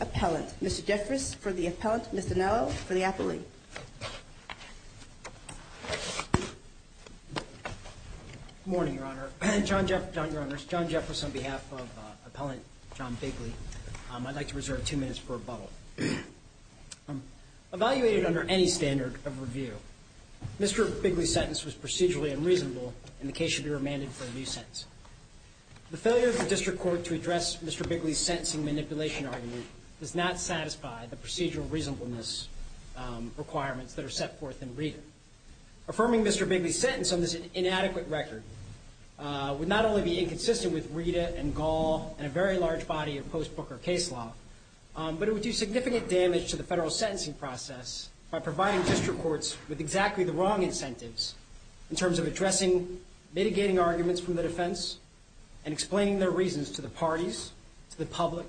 Appellant, Mr. Jeffress for the Appellant, Ms. Dinello for the Appellate. Good morning, Your Honor. John Jeffress on behalf of Appellant John Bigley. I'd like to reserve two minutes for rebuttal. Evaluated under any standard of review, Mr. Bigley's sentence is procedurally unreasonable and the case should be remanded for a new sentence. The failure of the district court to address Mr. Bigley's sentencing manipulation argument does not satisfy the procedural reasonableness requirements that are set forth in Rita. Affirming Mr. Bigley's sentence on this inadequate record would not only be inconsistent with Rita and Gall and a very large body of post-Booker case law, but it would do significant damage to the federal sentencing process by providing district courts with exactly the wrong incentives in terms of addressing mitigating arguments from the defense and explaining their reasons to the parties, to the public,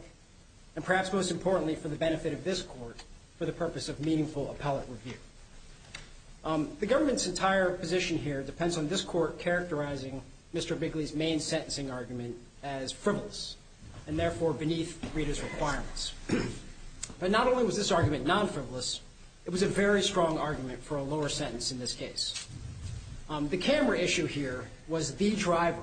and perhaps most importantly, for the benefit of this Court, for the purpose of meaningful appellate review. The government's entire position here depends on this Court characterizing Mr. Bigley's main sentencing argument as frivolous and therefore beneath Rita's requirements. But not only was this argument non-frivolous, it was a very strong argument for a lower sentence in this case. The camera issue here was the driver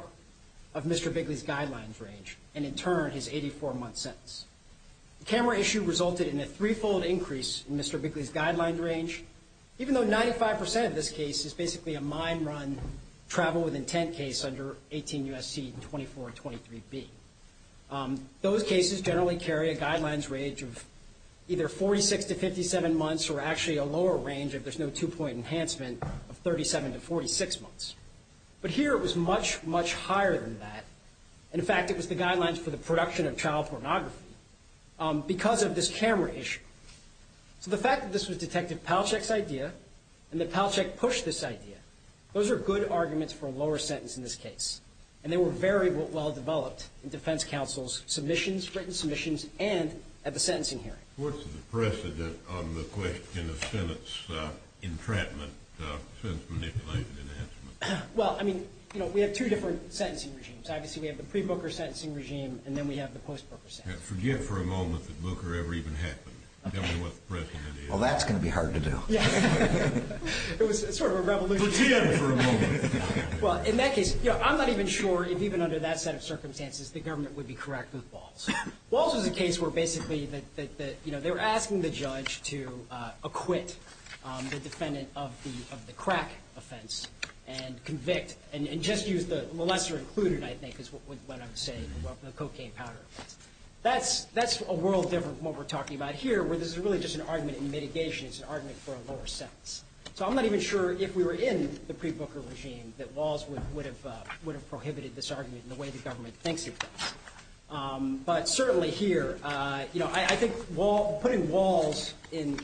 of Mr. Bigley's guidelines range and, in turn, his 84-month sentence. The camera issue resulted in a three-fold increase in Mr. Bigley's guidelines range, even though 95 percent of this case is basically a mine run travel with intent case under 18 U.S.C. 2423b. Those cases generally carry a guidelines range of either 46 to 57 months or actually a lower range, if there's no two-point enhancement, of 37 to 46 months. But here it was much, much higher than that. In fact, it was the guidelines for the production of child pornography because of this camera issue. So the fact that this was Detective Palachek's idea and that Palachek pushed this idea, those are good arguments for a lower sentence in this case. What's the precedent on the question of Senate's entrapment since manipulated enhancement? Well, I mean, you know, we have two different sentencing regimes. Obviously, we have the pre-Booker sentencing regime and then we have the post-Booker sentencing regime. Forget for a moment that Booker ever even happened. Tell me what the precedent is. Well, that's going to be hard to do. Yeah. It was sort of a revolution. Forget it for a moment. Well, in that case, you know, I'm not even sure if even under that set of circumstances the government would be correct with Walz. Walz was a case where basically that, you know, they were asking the judge to acquit the defendant of the crack offense and convict and just use the lesser included, I think, is what I'm saying, the cocaine powder offense. That's a world different from what we're talking about here where this is really just an argument in mitigation. It's an argument for a lower sentence. So I'm not even sure if we were in the pre-Booker regime that Walz would have prohibited this argument in the way the government thinks it does. But certainly here, you know, I think putting Walz in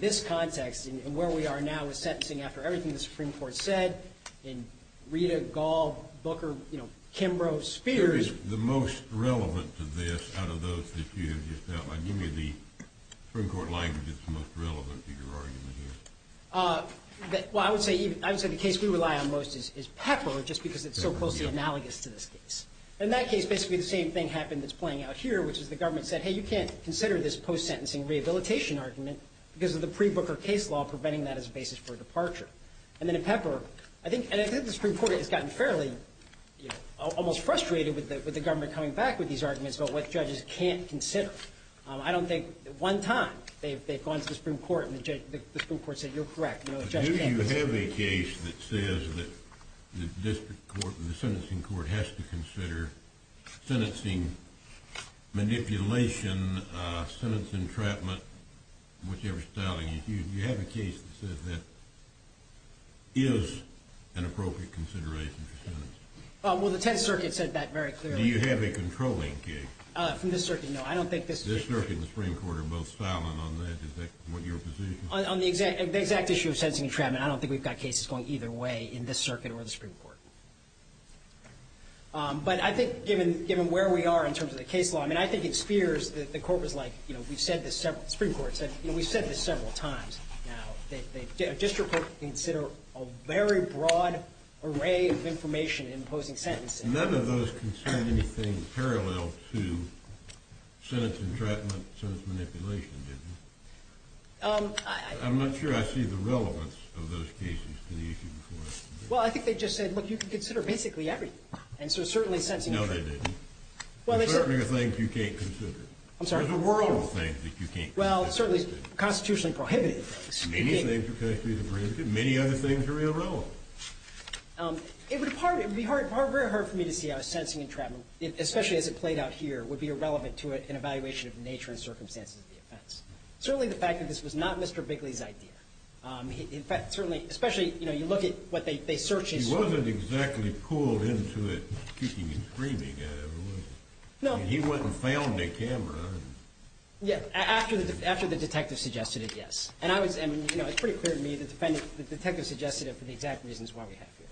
this context and where we are now with sentencing after everything the Supreme Court said and Rita, Gall, Booker, you know, Kimbrough, Spears. Who is the most relevant to this out of those that you have just outlined? Give me the Supreme Court language that's most relevant to your argument here. Well, I would say the case we rely on most is Pepper just because it's so closely analogous to this case. In that case, basically the same thing happened that's playing out here, which is the government said, hey, you can't consider this post-sentencing rehabilitation argument because of the pre-Booker case law preventing that as a basis for departure. And then in Pepper, I think the Supreme Court has gotten fairly, you know, almost frustrated with the government coming back with these arguments about what judges can't consider. I don't think one time they've gone to the Supreme Court and the Supreme Court said, you're correct. Do you have a case that says that the district court, the sentencing court has to consider sentencing manipulation, sentence entrapment, whichever style you use. Do you have a case that says that is an appropriate consideration for sentencing? Well, the Tenth Circuit said that very clearly. Do you have a controlling case? From this circuit, no. I don't think this is it. This circuit and the Supreme Court are both silent on that. Is that your position? On the exact issue of sentencing entrapment, I don't think we've got cases going either way in this circuit or the Supreme Court. But I think given where we are in terms of the case law, I mean, I think it spears the court was like, you know, we've said this several, the Supreme Court said, you know, we've said this several times now. A district court can consider a very broad array of information in imposing sentences. None of those concern anything parallel to sentence entrapment, sentence manipulation, do they? I'm not sure I see the relevance of those cases to the issue before us. Well, I think they just said, look, you can consider basically everything. And so certainly sentencing entrapment. No, they didn't. Well, they said you can't consider. I'm sorry. There's a world of things that you can't consider. Well, certainly constitutionally prohibited things. Many things are constitutionally prohibited. Many other things are irrelevant. It would be hard for me to see how a sentencing entrapment, especially as it played out here, would be irrelevant to an evaluation of nature and circumstances of the offense. Certainly the fact that this was not Mr. Bigley's idea. In fact, certainly, especially, you know, you look at what they searched. He wasn't exactly pulled into it, speaking and screaming at everyone. No. He went and found a camera. Yeah. After the detective suggested it, yes. And I was, I mean, you know, it's pretty clear to me the defendant, the detective suggested it for the exact reasons why we have here.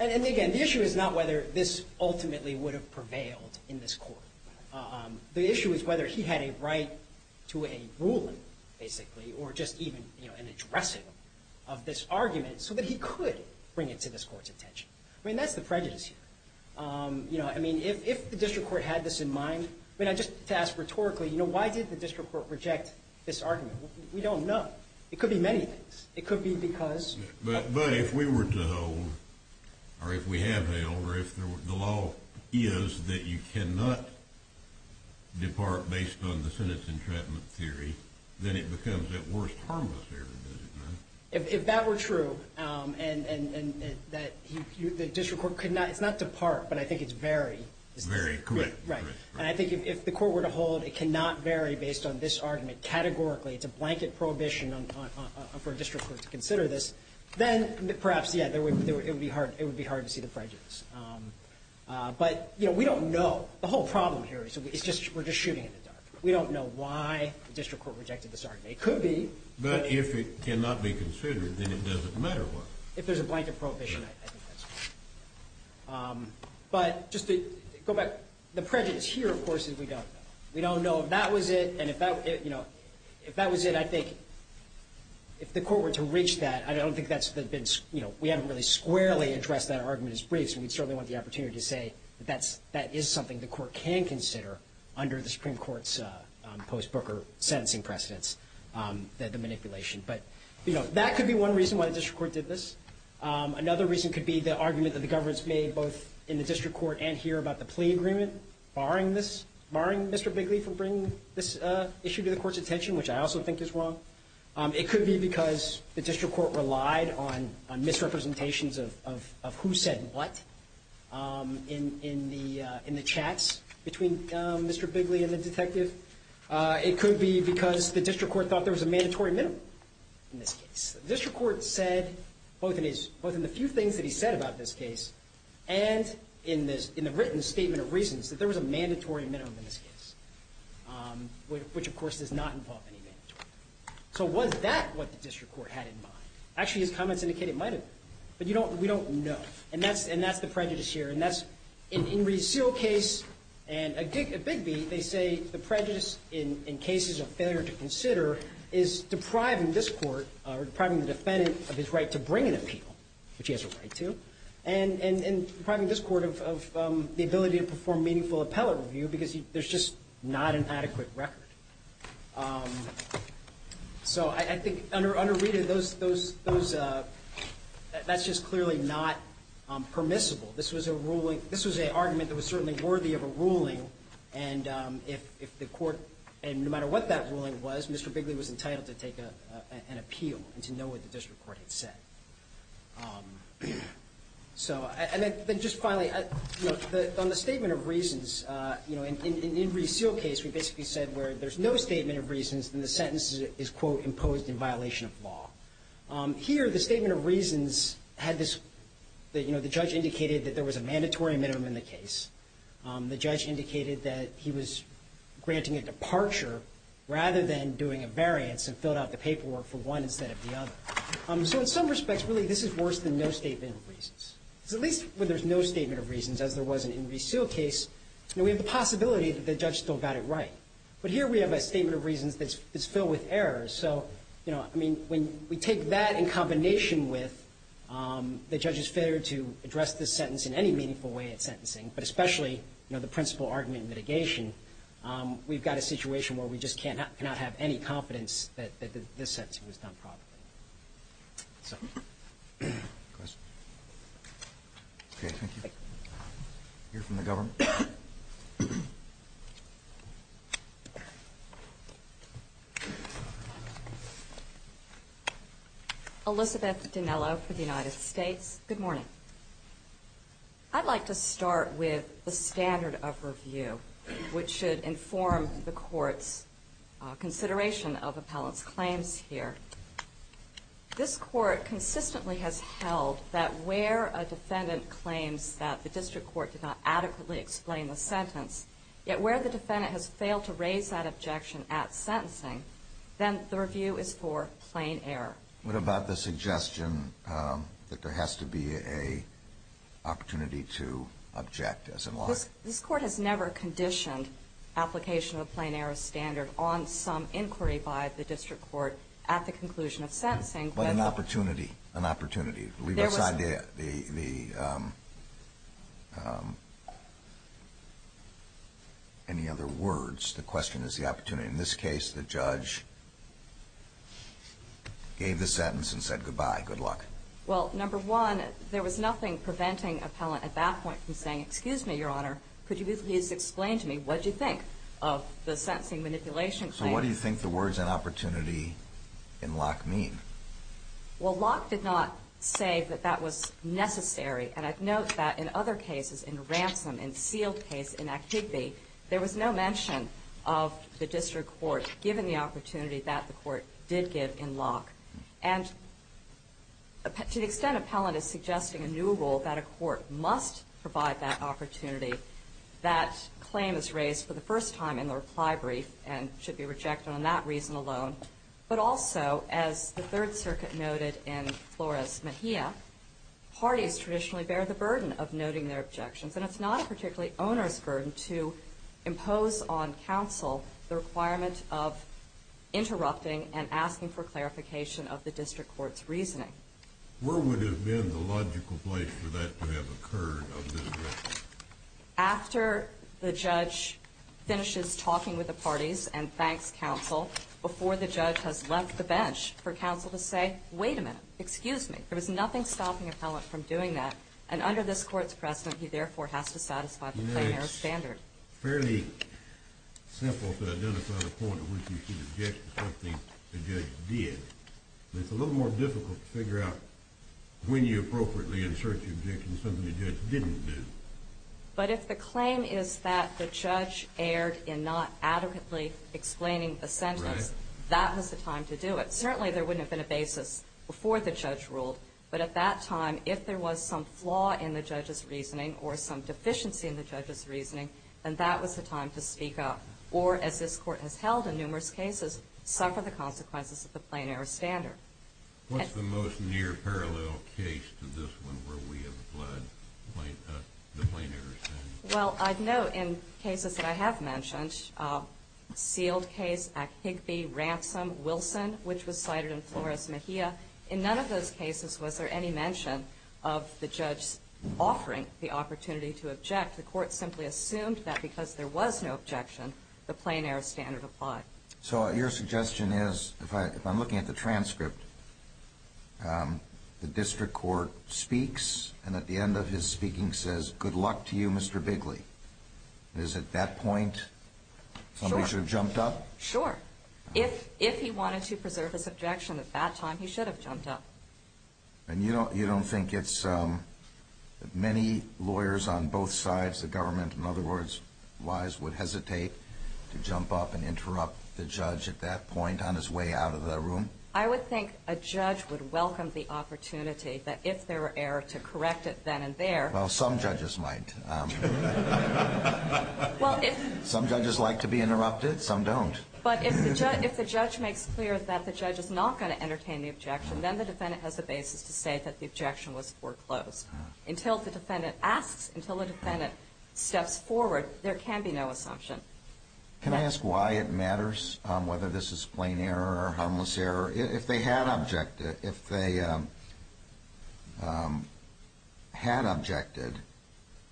And again, the issue is not whether this ultimately would have prevailed in this court. The issue is whether he had a right to a ruling, basically, or just even, you know, an addressing of this argument so that he could bring it to this court's attention. I mean, that's the prejudice here. You know, I mean, if the district court had this in mind, I mean, just to ask rhetorically, you know, why did the district court reject this argument? We don't know. It could be many things. It could be because. But if we were to hold, or if we have held, or if the law is that you cannot depart based on the sentence entrapment theory, then it becomes, at worst, harmless here, does it not? If that were true, and that the district court could not, it's not depart, but I think it's vary. It's vary. Correct. Right. And I think if the court were to hold it cannot vary based on this argument categorically. It's a blanket prohibition for a district court to consider this. Then perhaps, yeah, it would be hard to see the prejudice. But, you know, we don't know. The whole problem here is we're just shooting in the dark. We don't know why the district court rejected this argument. It could be. But if it cannot be considered, then it doesn't matter what. If there's a blanket prohibition, I think that's fine. But just to go back, the prejudice here, of course, is we don't know. We don't know if that was it. And if that, you know, if that was it, I think if the court were to reach that, I don't think that's the big, you know, we haven't really squarely addressed that argument as briefs. And we certainly want the opportunity to say that that's, that is something the court can consider under the Supreme Court's post-Booker sentencing precedents, the manipulation. But, you know, that could be one reason why the district court did this. Another reason could be the argument that the government's made both in the district court and here about the plea agreement, barring this, barring Mr. Bigley from bringing this issue to the court's attention, which I also think is wrong. It could be because the district court relied on misrepresentations of who said what in the chats between Mr. Bigley and the detective. It could be because the district court thought there was a mandatory minimum in this case. The district court said both in the few things that he said about this case and in the written statement of reasons that there was a mandatory minimum in this case, which, of course, does not involve any mandatory minimum. So was that what the district court had in mind? Actually, his comments indicate it might have been. But you don't, we don't know. And that's, and that's the prejudice here. And that's, in Rees-Seal's case and Bigby, they say the prejudice in cases of failure to consider is depriving this court, depriving the defendant of his right to bring an appeal, which he has a right to. And depriving this court of the ability to perform meaningful appellate review because there's just not an adequate record. So I think under Rita, those, that's just clearly not permissible. This was a ruling, this was an argument that was certainly worthy of a ruling. And if the court, and no matter what that ruling was, Mr. Bigley was entitled to take an appeal and to know what the district court had said. So, and then just finally, you know, on the statement of reasons, you know, in Rees-Seal's case, we basically said where there's no statement of reasons, then the sentence is, quote, imposed in violation of law. Here, the statement of reasons had this, you know, the judge indicated that there was a mandatory minimum in the case. The judge indicated that he was granting a departure rather than doing a variance and filled out the paperwork for one instead of the other. So in some respects, really, this is worse than no statement of reasons. Because at least when there's no statement of reasons, as there was in Rees-Seal's case, you know, we have the possibility that the judge still got it right. But here we have a statement of reasons that's filled with errors. So, you know, I mean, when we take that in combination with the judge's failure to address this sentence in any meaningful way at sentencing, but especially, you know, the principal argument mitigation, we've got a situation where we just cannot have any confidence that this sentence was done properly. So. Questions? Okay, thank you. We'll hear from the government. Elizabeth Dinello for the United States. Good morning. I'd like to start with the standard of review, which should inform the court's consideration of appellant's claims here. This court consistently has held that where a defendant claims that the district court did not adequately explain the sentence, yet where the defendant has failed to raise that objection at sentencing, then the review is for plain error. What about the suggestion that there has to be an opportunity to object, as in lie? This court has never conditioned application of a plain error standard on some inquiry by the district court at the conclusion of sentencing. But an opportunity. An opportunity. Leave aside the any other words. The question is the opportunity. In this case, the judge gave the sentence and said goodbye. Good luck. Well, number one, there was nothing preventing appellant at that point from saying, excuse me, your honor, could you please explain to me what you think of the sentencing manipulation claim? So what do you think the words in opportunity in lock mean? Well, lock did not say that that was necessary. And I'd note that in other cases, in ransom, in sealed case, in activity, there was no mention of the district court giving the opportunity that the court did give in lock. And to the extent appellant is suggesting a new rule that a court must provide that opportunity, that claim is raised for the first time in the reply brief and should be rejected on that reason alone. But also, as the Third Circuit noted in Flores Mejia, parties traditionally bear the burden of noting their objections. And it's not a particularly owner's burden to impose on counsel the requirement of interrupting and asking for clarification of the district court's reasoning. Where would have been the logical place for that to have occurred of the direction? After the judge finishes talking with the parties and thanks counsel, before the judge has left the bench, for counsel to say, wait a minute, excuse me. There was nothing stopping appellant from doing that. And under this court's precedent, he therefore has to satisfy the plain error standard. It's fairly simple to identify the point at which you should object to something the judge did. But it's a little more difficult to figure out when you appropriately insert the objection to something the judge didn't do. But if the claim is that the judge erred in not adequately explaining the sentence, that was the time to do it. Certainly, there wouldn't have been a basis before the judge ruled. But at that time, if there was some flaw in the judge's reasoning or some deficiency in the judge's reasoning, then that was the time to speak up. Or, as this court has held in numerous cases, suffer the consequences of the plain error standard. What's the most near parallel case to this one where we have applied the plain error standard? Well, I'd note in cases that I have mentioned, sealed case at Higbee, ransom, Wilson, which was cited in Flores Mejia. In none of those cases was there any mention of the judge offering the opportunity to object. The court simply assumed that because there was no objection, the plain error standard applied. So your suggestion is, if I'm looking at the transcript, the district court speaks and at the end of his speaking says, good luck to you, Mr. Bigley. Is it that point somebody should have jumped up? Sure. If he wanted to preserve his objection at that time, he should have jumped up. And you don't think it's that many lawyers on both sides of the government, in other words, wise, would hesitate to jump up and interrupt the judge at that point on his way out of the room? I would think a judge would welcome the opportunity that if there were error to correct it then and there. Well, some judges might. Some judges like to be interrupted. Some don't. But if the judge makes clear that the judge is not going to entertain the objection, then the defendant has a basis to say that the objection was foreclosed. Until the defendant asks, until the defendant steps forward, there can be no assumption. Can I ask why it matters whether this is plain error or harmless error? If they had objected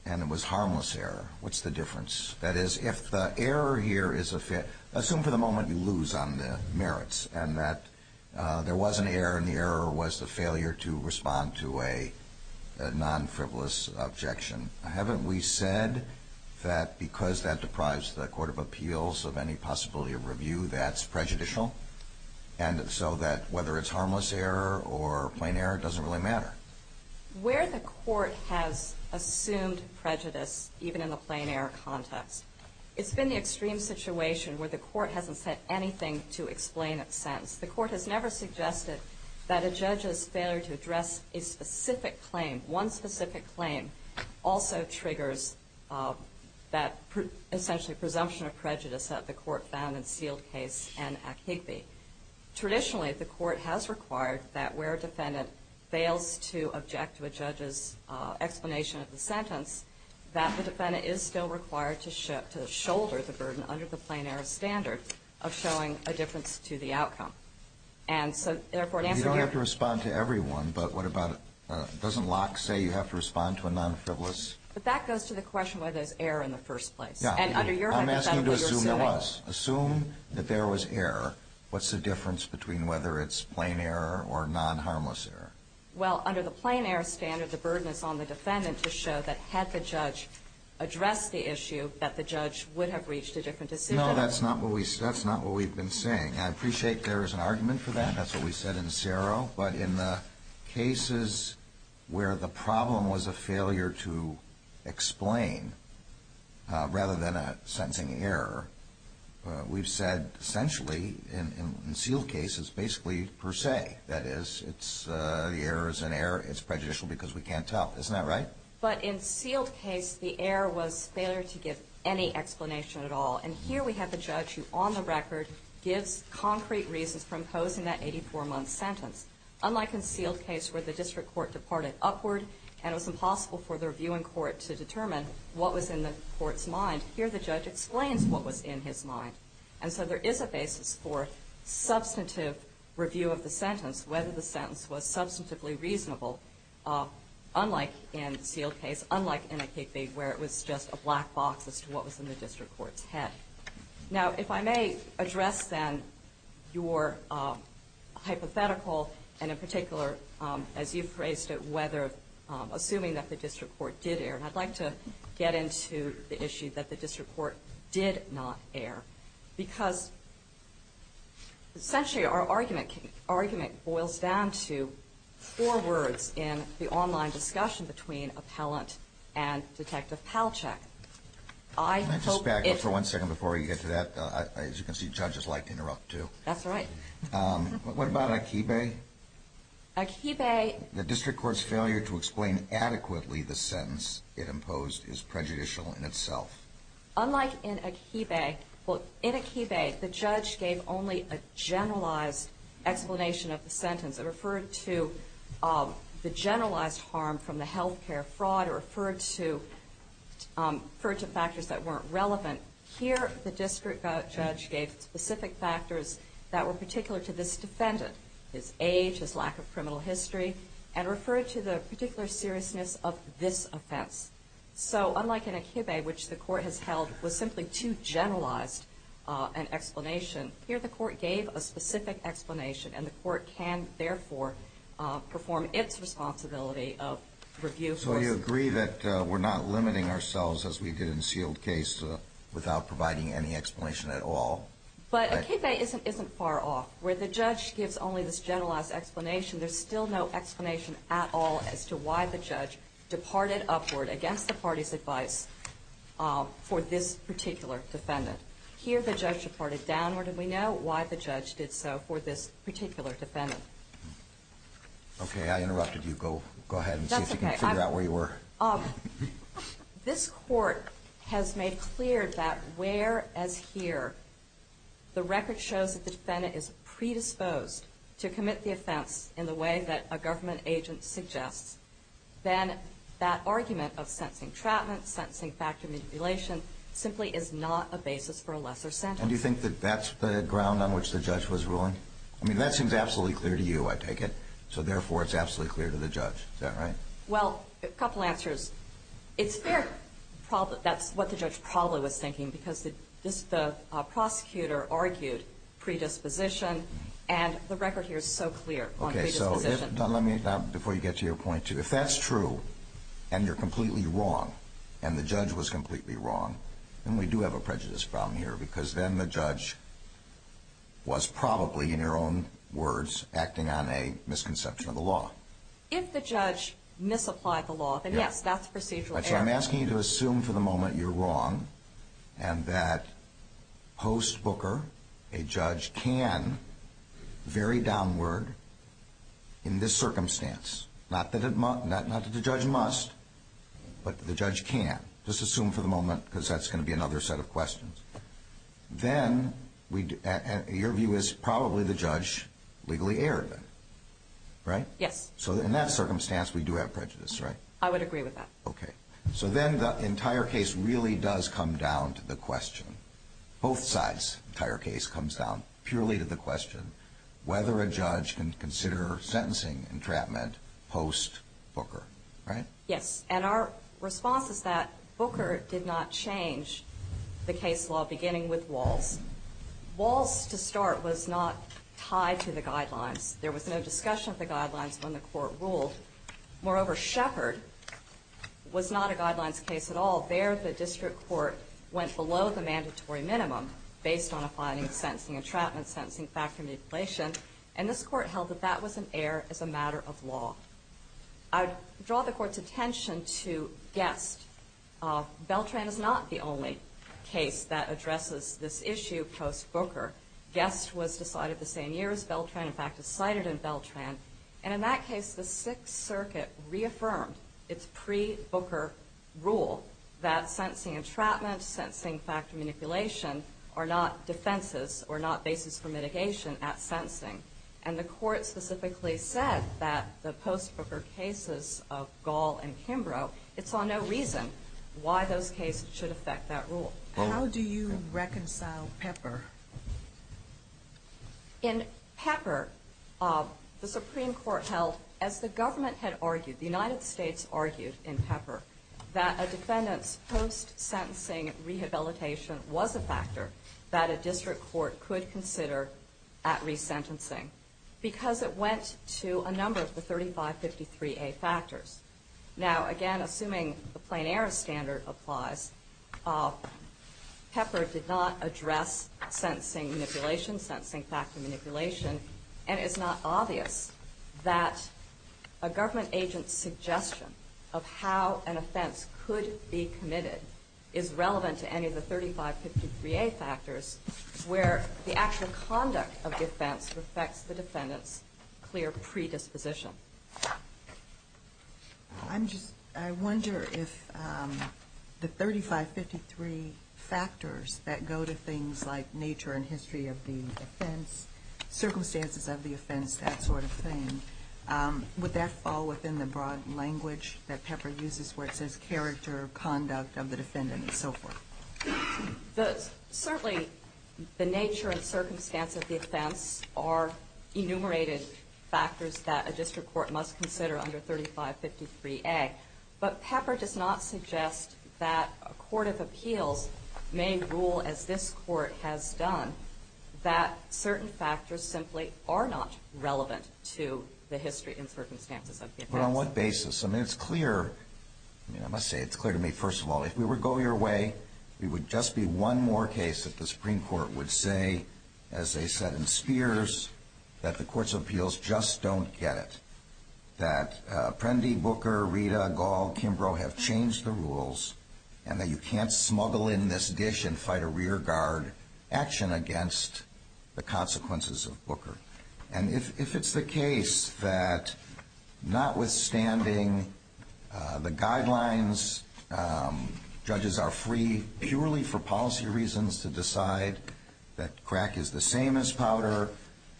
and it was harmless error, what's the difference? That is, if the error here is a failure, assume for the moment you lose on the merits and that there was an error and the error was the failure to respond to a non-frivolous objection. Haven't we said that because that deprives the court of appeals of any possibility of review, that's prejudicial? And so that whether it's harmless error or plain error, it doesn't really matter. Where the court has assumed prejudice, even in the plain error context, it's been the extreme situation where the court hasn't said anything to explain its sentence. The court has never suggested that a judge's failure to address a specific claim, one specific claim, also triggers that essentially presumption of prejudice that the court found in Sealed Case and Akigbe. Traditionally, the court has required that where a defendant fails to object to a judge's explanation of the sentence, that the defendant is still required to shoulder the burden under the plain error standard of showing a difference to the outcome. And so, therefore, answering your question. You don't have to respond to everyone, but what about, doesn't Locke say you have to respond to a non-frivolous? But that goes to the question whether there's error in the first place. Yeah. And under your hypothetical, you're assuming. It does. Assume that there was error. What's the difference between whether it's plain error or non-harmless error? Well, under the plain error standard, the burden is on the defendant to show that had the judge addressed the issue, that the judge would have reached a different decision. No, that's not what we've been saying. I appreciate there is an argument for that. That's what we said in CERO. But in the cases where the problem was a failure to explain, rather than a sentencing error, we've said, essentially, in sealed cases, basically per se. That is, the error is an error. It's prejudicial because we can't tell. Isn't that right? But in sealed case, the error was failure to give any explanation at all. And here we have the judge who, on the record, gives concrete reasons for imposing that 84-month sentence. Unlike in sealed case where the district court departed upward and it was impossible for the reviewing court to determine what was in the court's mind, here the judge explains what was in his mind. And so there is a basis for substantive review of the sentence, whether the sentence was substantively reasonable, unlike in sealed case, unlike in a case where it was just a black box as to what was in the district court's head. Now, if I may address, then, your hypothetical and, in particular, as you've phrased it, whether assuming that the district court did err. And I'd like to get into the issue that the district court did not err because, essentially, our argument boils down to four words in the online discussion between appellant and Detective Palachuk. I hope it's... Can I just back up for one second before we get to that? As you can see, judges like to interrupt, too. That's right. What about Akibe? Akibe... is prejudicial in itself. Unlike in Akibe, well, in Akibe, the judge gave only a generalized explanation of the sentence. It referred to the generalized harm from the health care fraud or referred to factors that weren't relevant. Here, the district judge gave specific factors that were particular to this defendant, his age, his lack of criminal history, and referred to the particular seriousness of this offense. So, unlike in Akibe, which the court has held was simply too generalized an explanation, here the court gave a specific explanation, and the court can, therefore, perform its responsibility of review. So you agree that we're not limiting ourselves, as we did in Sealed Case, without providing any explanation at all? But Akibe isn't far off. Where the judge gives only this generalized explanation, there's still no explanation at all as to why the judge departed upward against the party's advice for this particular defendant. Here, the judge departed downward, and we know why the judge did so for this particular defendant. Okay, I interrupted you. Go ahead and see if you can figure out where you were. This court has made clear that, where as here, the record shows that the defendant is predisposed to commit the offense in the way that a government agent suggests, then that argument of sentencing trapment, sentencing factor manipulation, simply is not a basis for a lesser sentence. And do you think that that's the ground on which the judge was ruling? I mean, that seems absolutely clear to you, I take it. So, therefore, it's absolutely clear to the judge. Is that right? Well, a couple answers. It's fair that that's what the judge probably was thinking, because the prosecutor argued predisposition, and the record here is so clear on predisposition. Okay, so let me, before you get to your point, if that's true, and you're completely wrong, and the judge was completely wrong, then we do have a prejudice problem here, because then the judge was probably, in your own words, acting on a misconception of the law. If the judge misapplied the law, then yes, that's a procedural error. But I'm asking you to assume for the moment you're wrong, and that post-Booker, a judge can vary downward in this circumstance. Not that the judge must, but the judge can. Just assume for the moment, because that's going to be another set of questions. Then your view is probably the judge legally erred. Right? Yes. So in that circumstance, we do have prejudice, right? I would agree with that. Okay. So then the entire case really does come down to the question, both sides' entire case comes down purely to the question whether a judge can consider sentencing entrapment post-Booker, right? Yes. And our response is that Booker did not change the case law, beginning with Walz. Walz, to start, was not tied to the guidelines. There was no discussion of the guidelines when the Court ruled. Moreover, Shepard was not a guidelines case at all. There, the district court went below the mandatory minimum based on applying sentencing entrapment, sentencing factor mutilation, and this Court held that that was an error as a matter of law. I would draw the Court's attention to Guest. Beltran is not the only case that addresses this issue post-Booker. Guest was decided the same year as Beltran, in fact, is cited in Beltran. And in that case, the Sixth Circuit reaffirmed its pre-Booker rule that sentencing entrapment, sentencing factor manipulation are not defenses or not basis for mitigation at sentencing. And the Court specifically said that the post-Booker cases of Gall and Kimbrough, it saw no reason why those cases should affect that rule. How do you reconcile Pepper? In Pepper, the Supreme Court held, as the government had argued, the United States argued in Pepper, that a defendant's post-sentencing rehabilitation was a factor that a district court could consider at resentencing because it went to a number of the 3553A factors. Now, again, assuming the plain error standard applies, Pepper did not address sentencing manipulation, sentencing factor manipulation, and it's not obvious that a government agent's suggestion of how an offense could be committed is relevant to any of the 3553A factors where the actual conduct of the offense affects the defendant's clear predisposition. I'm just, I wonder if the 3553 factors that go to things like nature and history of the offense, circumstances of the offense, that sort of thing, would that fall within the broad language that Pepper uses where it says character, conduct of the defendant, and so forth? Certainly, the nature and circumstance of the offense are enumerated factors that a district court must consider under 3553A. But Pepper does not suggest that a court of appeals may rule, as this court has done, that certain factors simply are not relevant to the history and circumstances of the offense. But on what basis? I mean, it's clear. I mean, I must say it's clear to me, first of all, if we were going your way, it would just be one more case that the Supreme Court would say, as they said in Spears, that the courts of appeals just don't get it, that Prendy, Booker, Rita, Gall, Kimbrough have changed the rules and that you can't smuggle in this dish and fight a rear guard action against the consequences of Booker. And if it's the case that notwithstanding the guidelines, judges are free, purely for policy reasons, to decide that crack is the same as powder.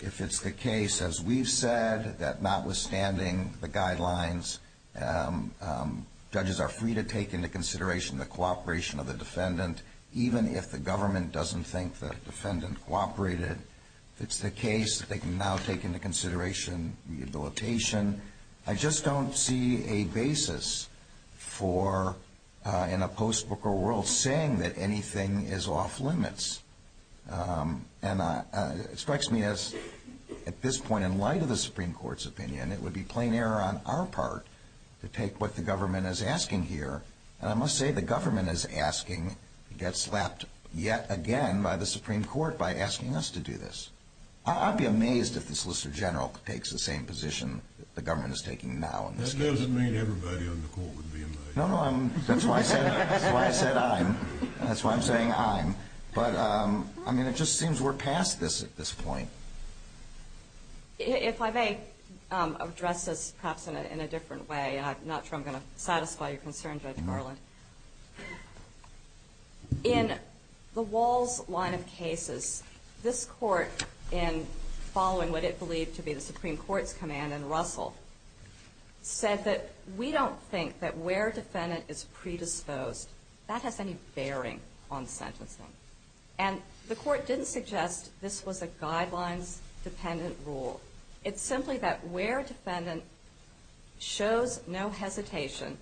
If it's the case, as we've said, that notwithstanding the guidelines, judges are free to take into consideration the cooperation of the defendant, even if the government doesn't think the defendant cooperated. If it's the case that they can now take into consideration rehabilitation, I just don't see a basis for, in a post-Booker world, saying that anything is off limits. And it strikes me as, at this point, in light of the Supreme Court's opinion, it would be plain error on our part to take what the government is asking here. And I must say the government is asking to get slapped yet again by the Supreme Court by asking us to do this. I'd be amazed if the Solicitor General takes the same position that the government is taking now. That doesn't mean everybody on the Court would be amazed. No, no, that's why I said I'm. That's why I'm saying I'm. But, I mean, it just seems we're past this at this point. If I may address this perhaps in a different way, and I'm not sure I'm going to satisfy your concern, Judge Garland. In the Walls line of cases, this Court, in following what it believed to be the Supreme Court's command in Russell, said that we don't think that where defendant is predisposed, that has any bearing on sentencing. And the Court didn't suggest this was a guidelines-dependent rule. It's simply that where defendant shows no hesitation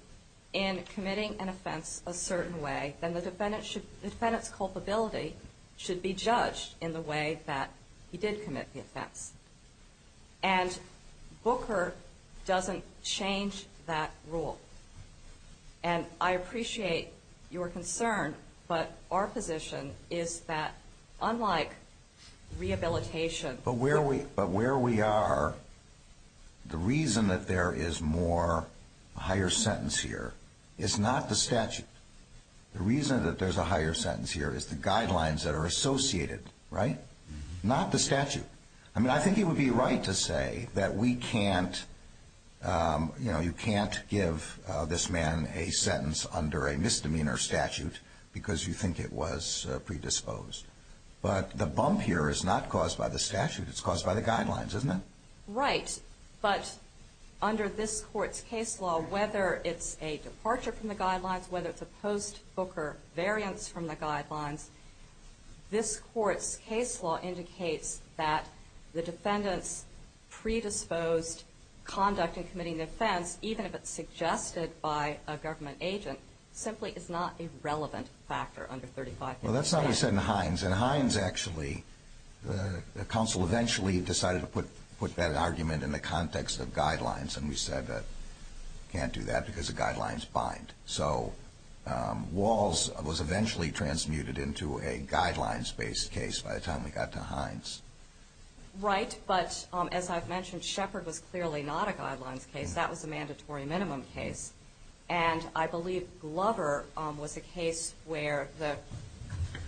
in committing an offense a certain way, then the defendant's culpability should be judged in the way that he did commit the offense. And Booker doesn't change that rule. And I appreciate your concern, but our position is that unlike rehabilitation. But where we are, the reason that there is more higher sentence here is not the statute. The reason that there's a higher sentence here is the guidelines that are associated, right? Not the statute. I mean, I think it would be right to say that we can't, you know, you can't give this man a sentence under a misdemeanor statute because you think it was predisposed. But the bump here is not caused by the statute. It's caused by the guidelines, isn't it? Right. But under this Court's case law, whether it's a departure from the guidelines, whether it's a post-Booker variance from the guidelines, this Court's case law indicates that the defendant's predisposed conduct in committing the offense, even if it's suggested by a government agent, simply is not a relevant factor under 3558. Well, that's not what you said in Hines. In Hines, actually, the counsel eventually decided to put that argument in the context of guidelines. And we said that we can't do that because the guidelines bind. So Walls was eventually transmuted into a guidelines-based case by the time we got to Hines. Right. But as I've mentioned, Shepard was clearly not a guidelines case. That was a mandatory minimum case. And I believe Glover was a case where the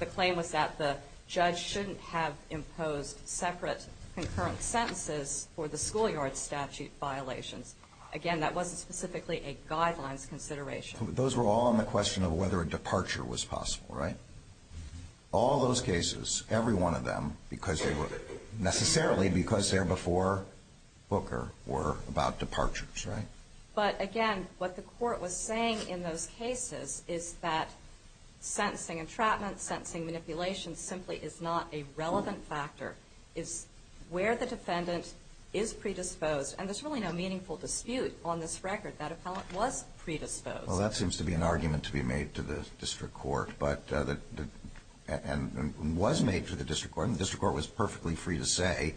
claim was that the judge shouldn't have imposed separate concurrent sentences for the schoolyard statute violations. Again, that wasn't specifically a guidelines consideration. Those were all on the question of whether a departure was possible, right? All those cases, every one of them, necessarily because they're before Booker, were about departures, right? But, again, what the court was saying in those cases is that sensing entrapment, sensing manipulation simply is not a relevant factor. It's where the defendant is predisposed. And there's really no meaningful dispute on this record. That appellant was predisposed. Well, that seems to be an argument to be made to the district court and was made to the district court. And the district court was perfectly free to say,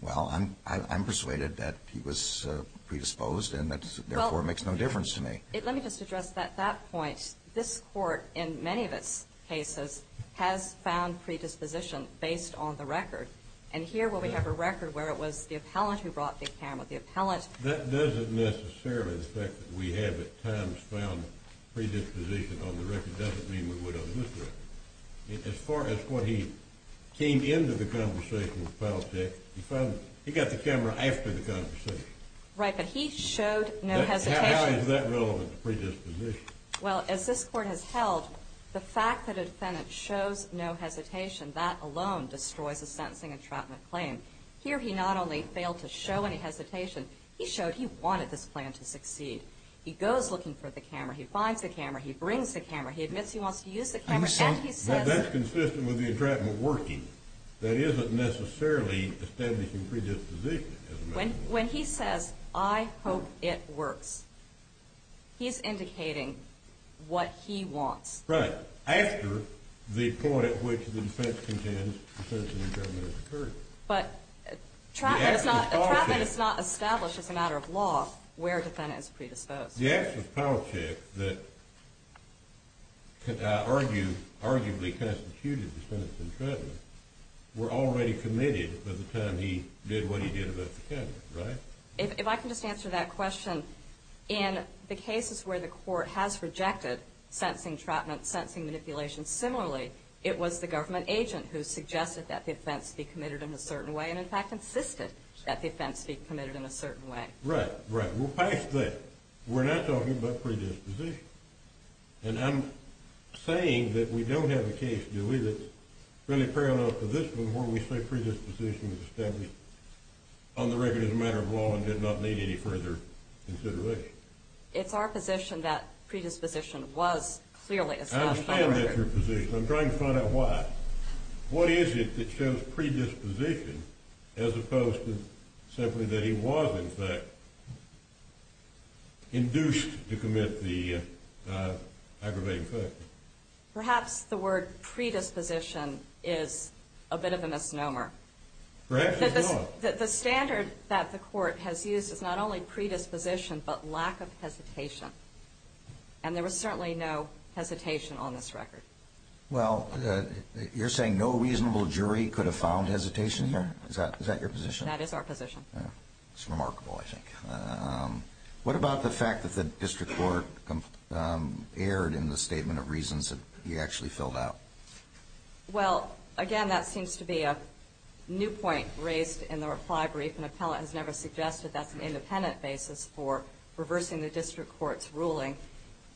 well, I'm persuaded that he was predisposed and that, therefore, it makes no difference to me. Let me just address that point. This court, in many of its cases, has found predisposition based on the record. And here we have a record where it was the appellant who brought the camera, the appellant. That doesn't necessarily affect that we have at times found predisposition on the record. It doesn't mean we would on this record. As far as what he came into the conversation with the appellant, he got the camera after the conversation. Right, but he showed no hesitation. How is that relevant to predisposition? Well, as this court has held, the fact that a defendant shows no hesitation, that alone destroys a sentencing entrapment claim. Here he not only failed to show any hesitation, he showed he wanted this plan to succeed. He goes looking for the camera. He finds the camera. He brings the camera. He admits he wants to use the camera. That's consistent with the entrapment working. That isn't necessarily establishing predisposition. When he says, I hope it works, he's indicating what he wants. Right. After the point at which the defense contends the sentencing entrapment has occurred. But entrapment is not established as a matter of law where a defendant is predisposed. The acts of politics that arguably constituted the sentencing entrapment were already committed by the time he did what he did about the camera, right? If I can just answer that question, in the cases where the court has rejected sentencing entrapment, sentencing manipulation, similarly it was the government agent who suggested that the offense be committed in a certain way and, in fact, insisted that the offense be committed in a certain way. Right, right. We're past that. We're not talking about predisposition. And I'm saying that we don't have a case, do we, that's really parallel to this one where we say predisposition is established on the record as a matter of law and did not need any further consideration. It's our position that predisposition was clearly established. I'm saying that's your position. I'm trying to find out why. What is it that shows predisposition as opposed to simply that he was, in fact, induced to commit the aggravating factor? Perhaps the word predisposition is a bit of a misnomer. Perhaps it's not. The standard that the court has used is not only predisposition but lack of hesitation, and there was certainly no hesitation on this record. Well, you're saying no reasonable jury could have found hesitation here? Is that your position? That is our position. It's remarkable, I think. What about the fact that the district court erred in the statement of reasons that he actually filled out? Well, again, that seems to be a new point raised in the reply brief. An appellate has never suggested that's an independent basis for reversing the district court's ruling.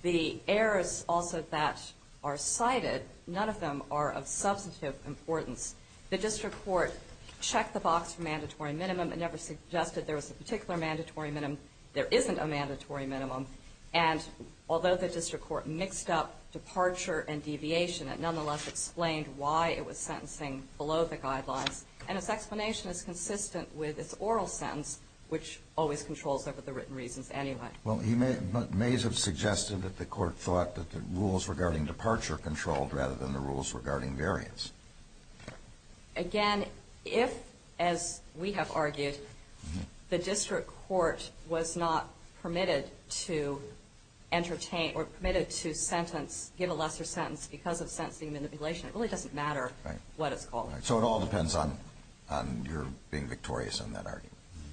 The errors also that are cited, none of them are of substantive importance. The district court checked the box for mandatory minimum. It never suggested there was a particular mandatory minimum. There isn't a mandatory minimum. And although the district court mixed up departure and deviation, it nonetheless explained why it was sentencing below the guidelines. And its explanation is consistent with its oral sentence, which always controls over the written reasons anyway. Well, he may have suggested that the court thought that the rules regarding departure controlled rather than the rules regarding variance. Again, if, as we have argued, the district court was not permitted to entertain or permitted to sentence, give a lesser sentence because of sentencing manipulation, it really doesn't matter what it's called. So it all depends on your being victorious in that argument.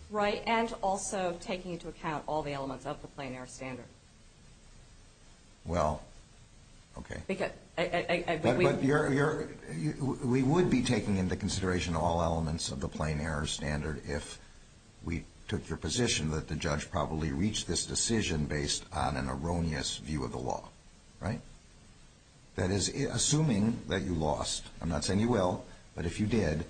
Right. And also taking into account all the elements of the plain error standard. Well, okay. We would be taking into consideration all elements of the plain error standard if we took your position that the judge probably reached this decision based on an erroneous view of the law. Right? That is, assuming that you lost, I'm not saying you will, but if you did,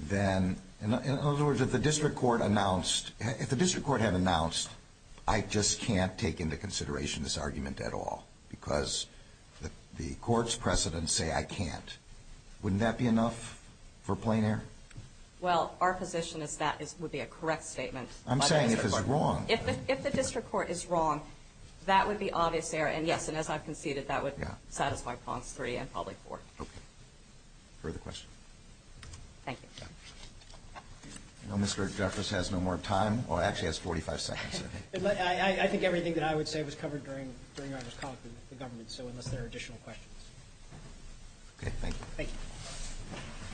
then, in other words, if the district court announced, if the district court had announced, I just can't take into consideration this argument at all because the court's precedents say I can't, wouldn't that be enough for plain error? Well, our position is that would be a correct statement. I'm saying if it's wrong. If the district court is wrong, that would be obvious error. And, yes, and as I've conceded, that would satisfy Pons 3 and probably 4. Okay. Further questions? Thank you. Well, Mr. Jeffress has no more time, or actually has 45 seconds. I think everything that I would say was covered during our discussion with the government, so unless there are additional questions. Okay. Thank you. Thank you.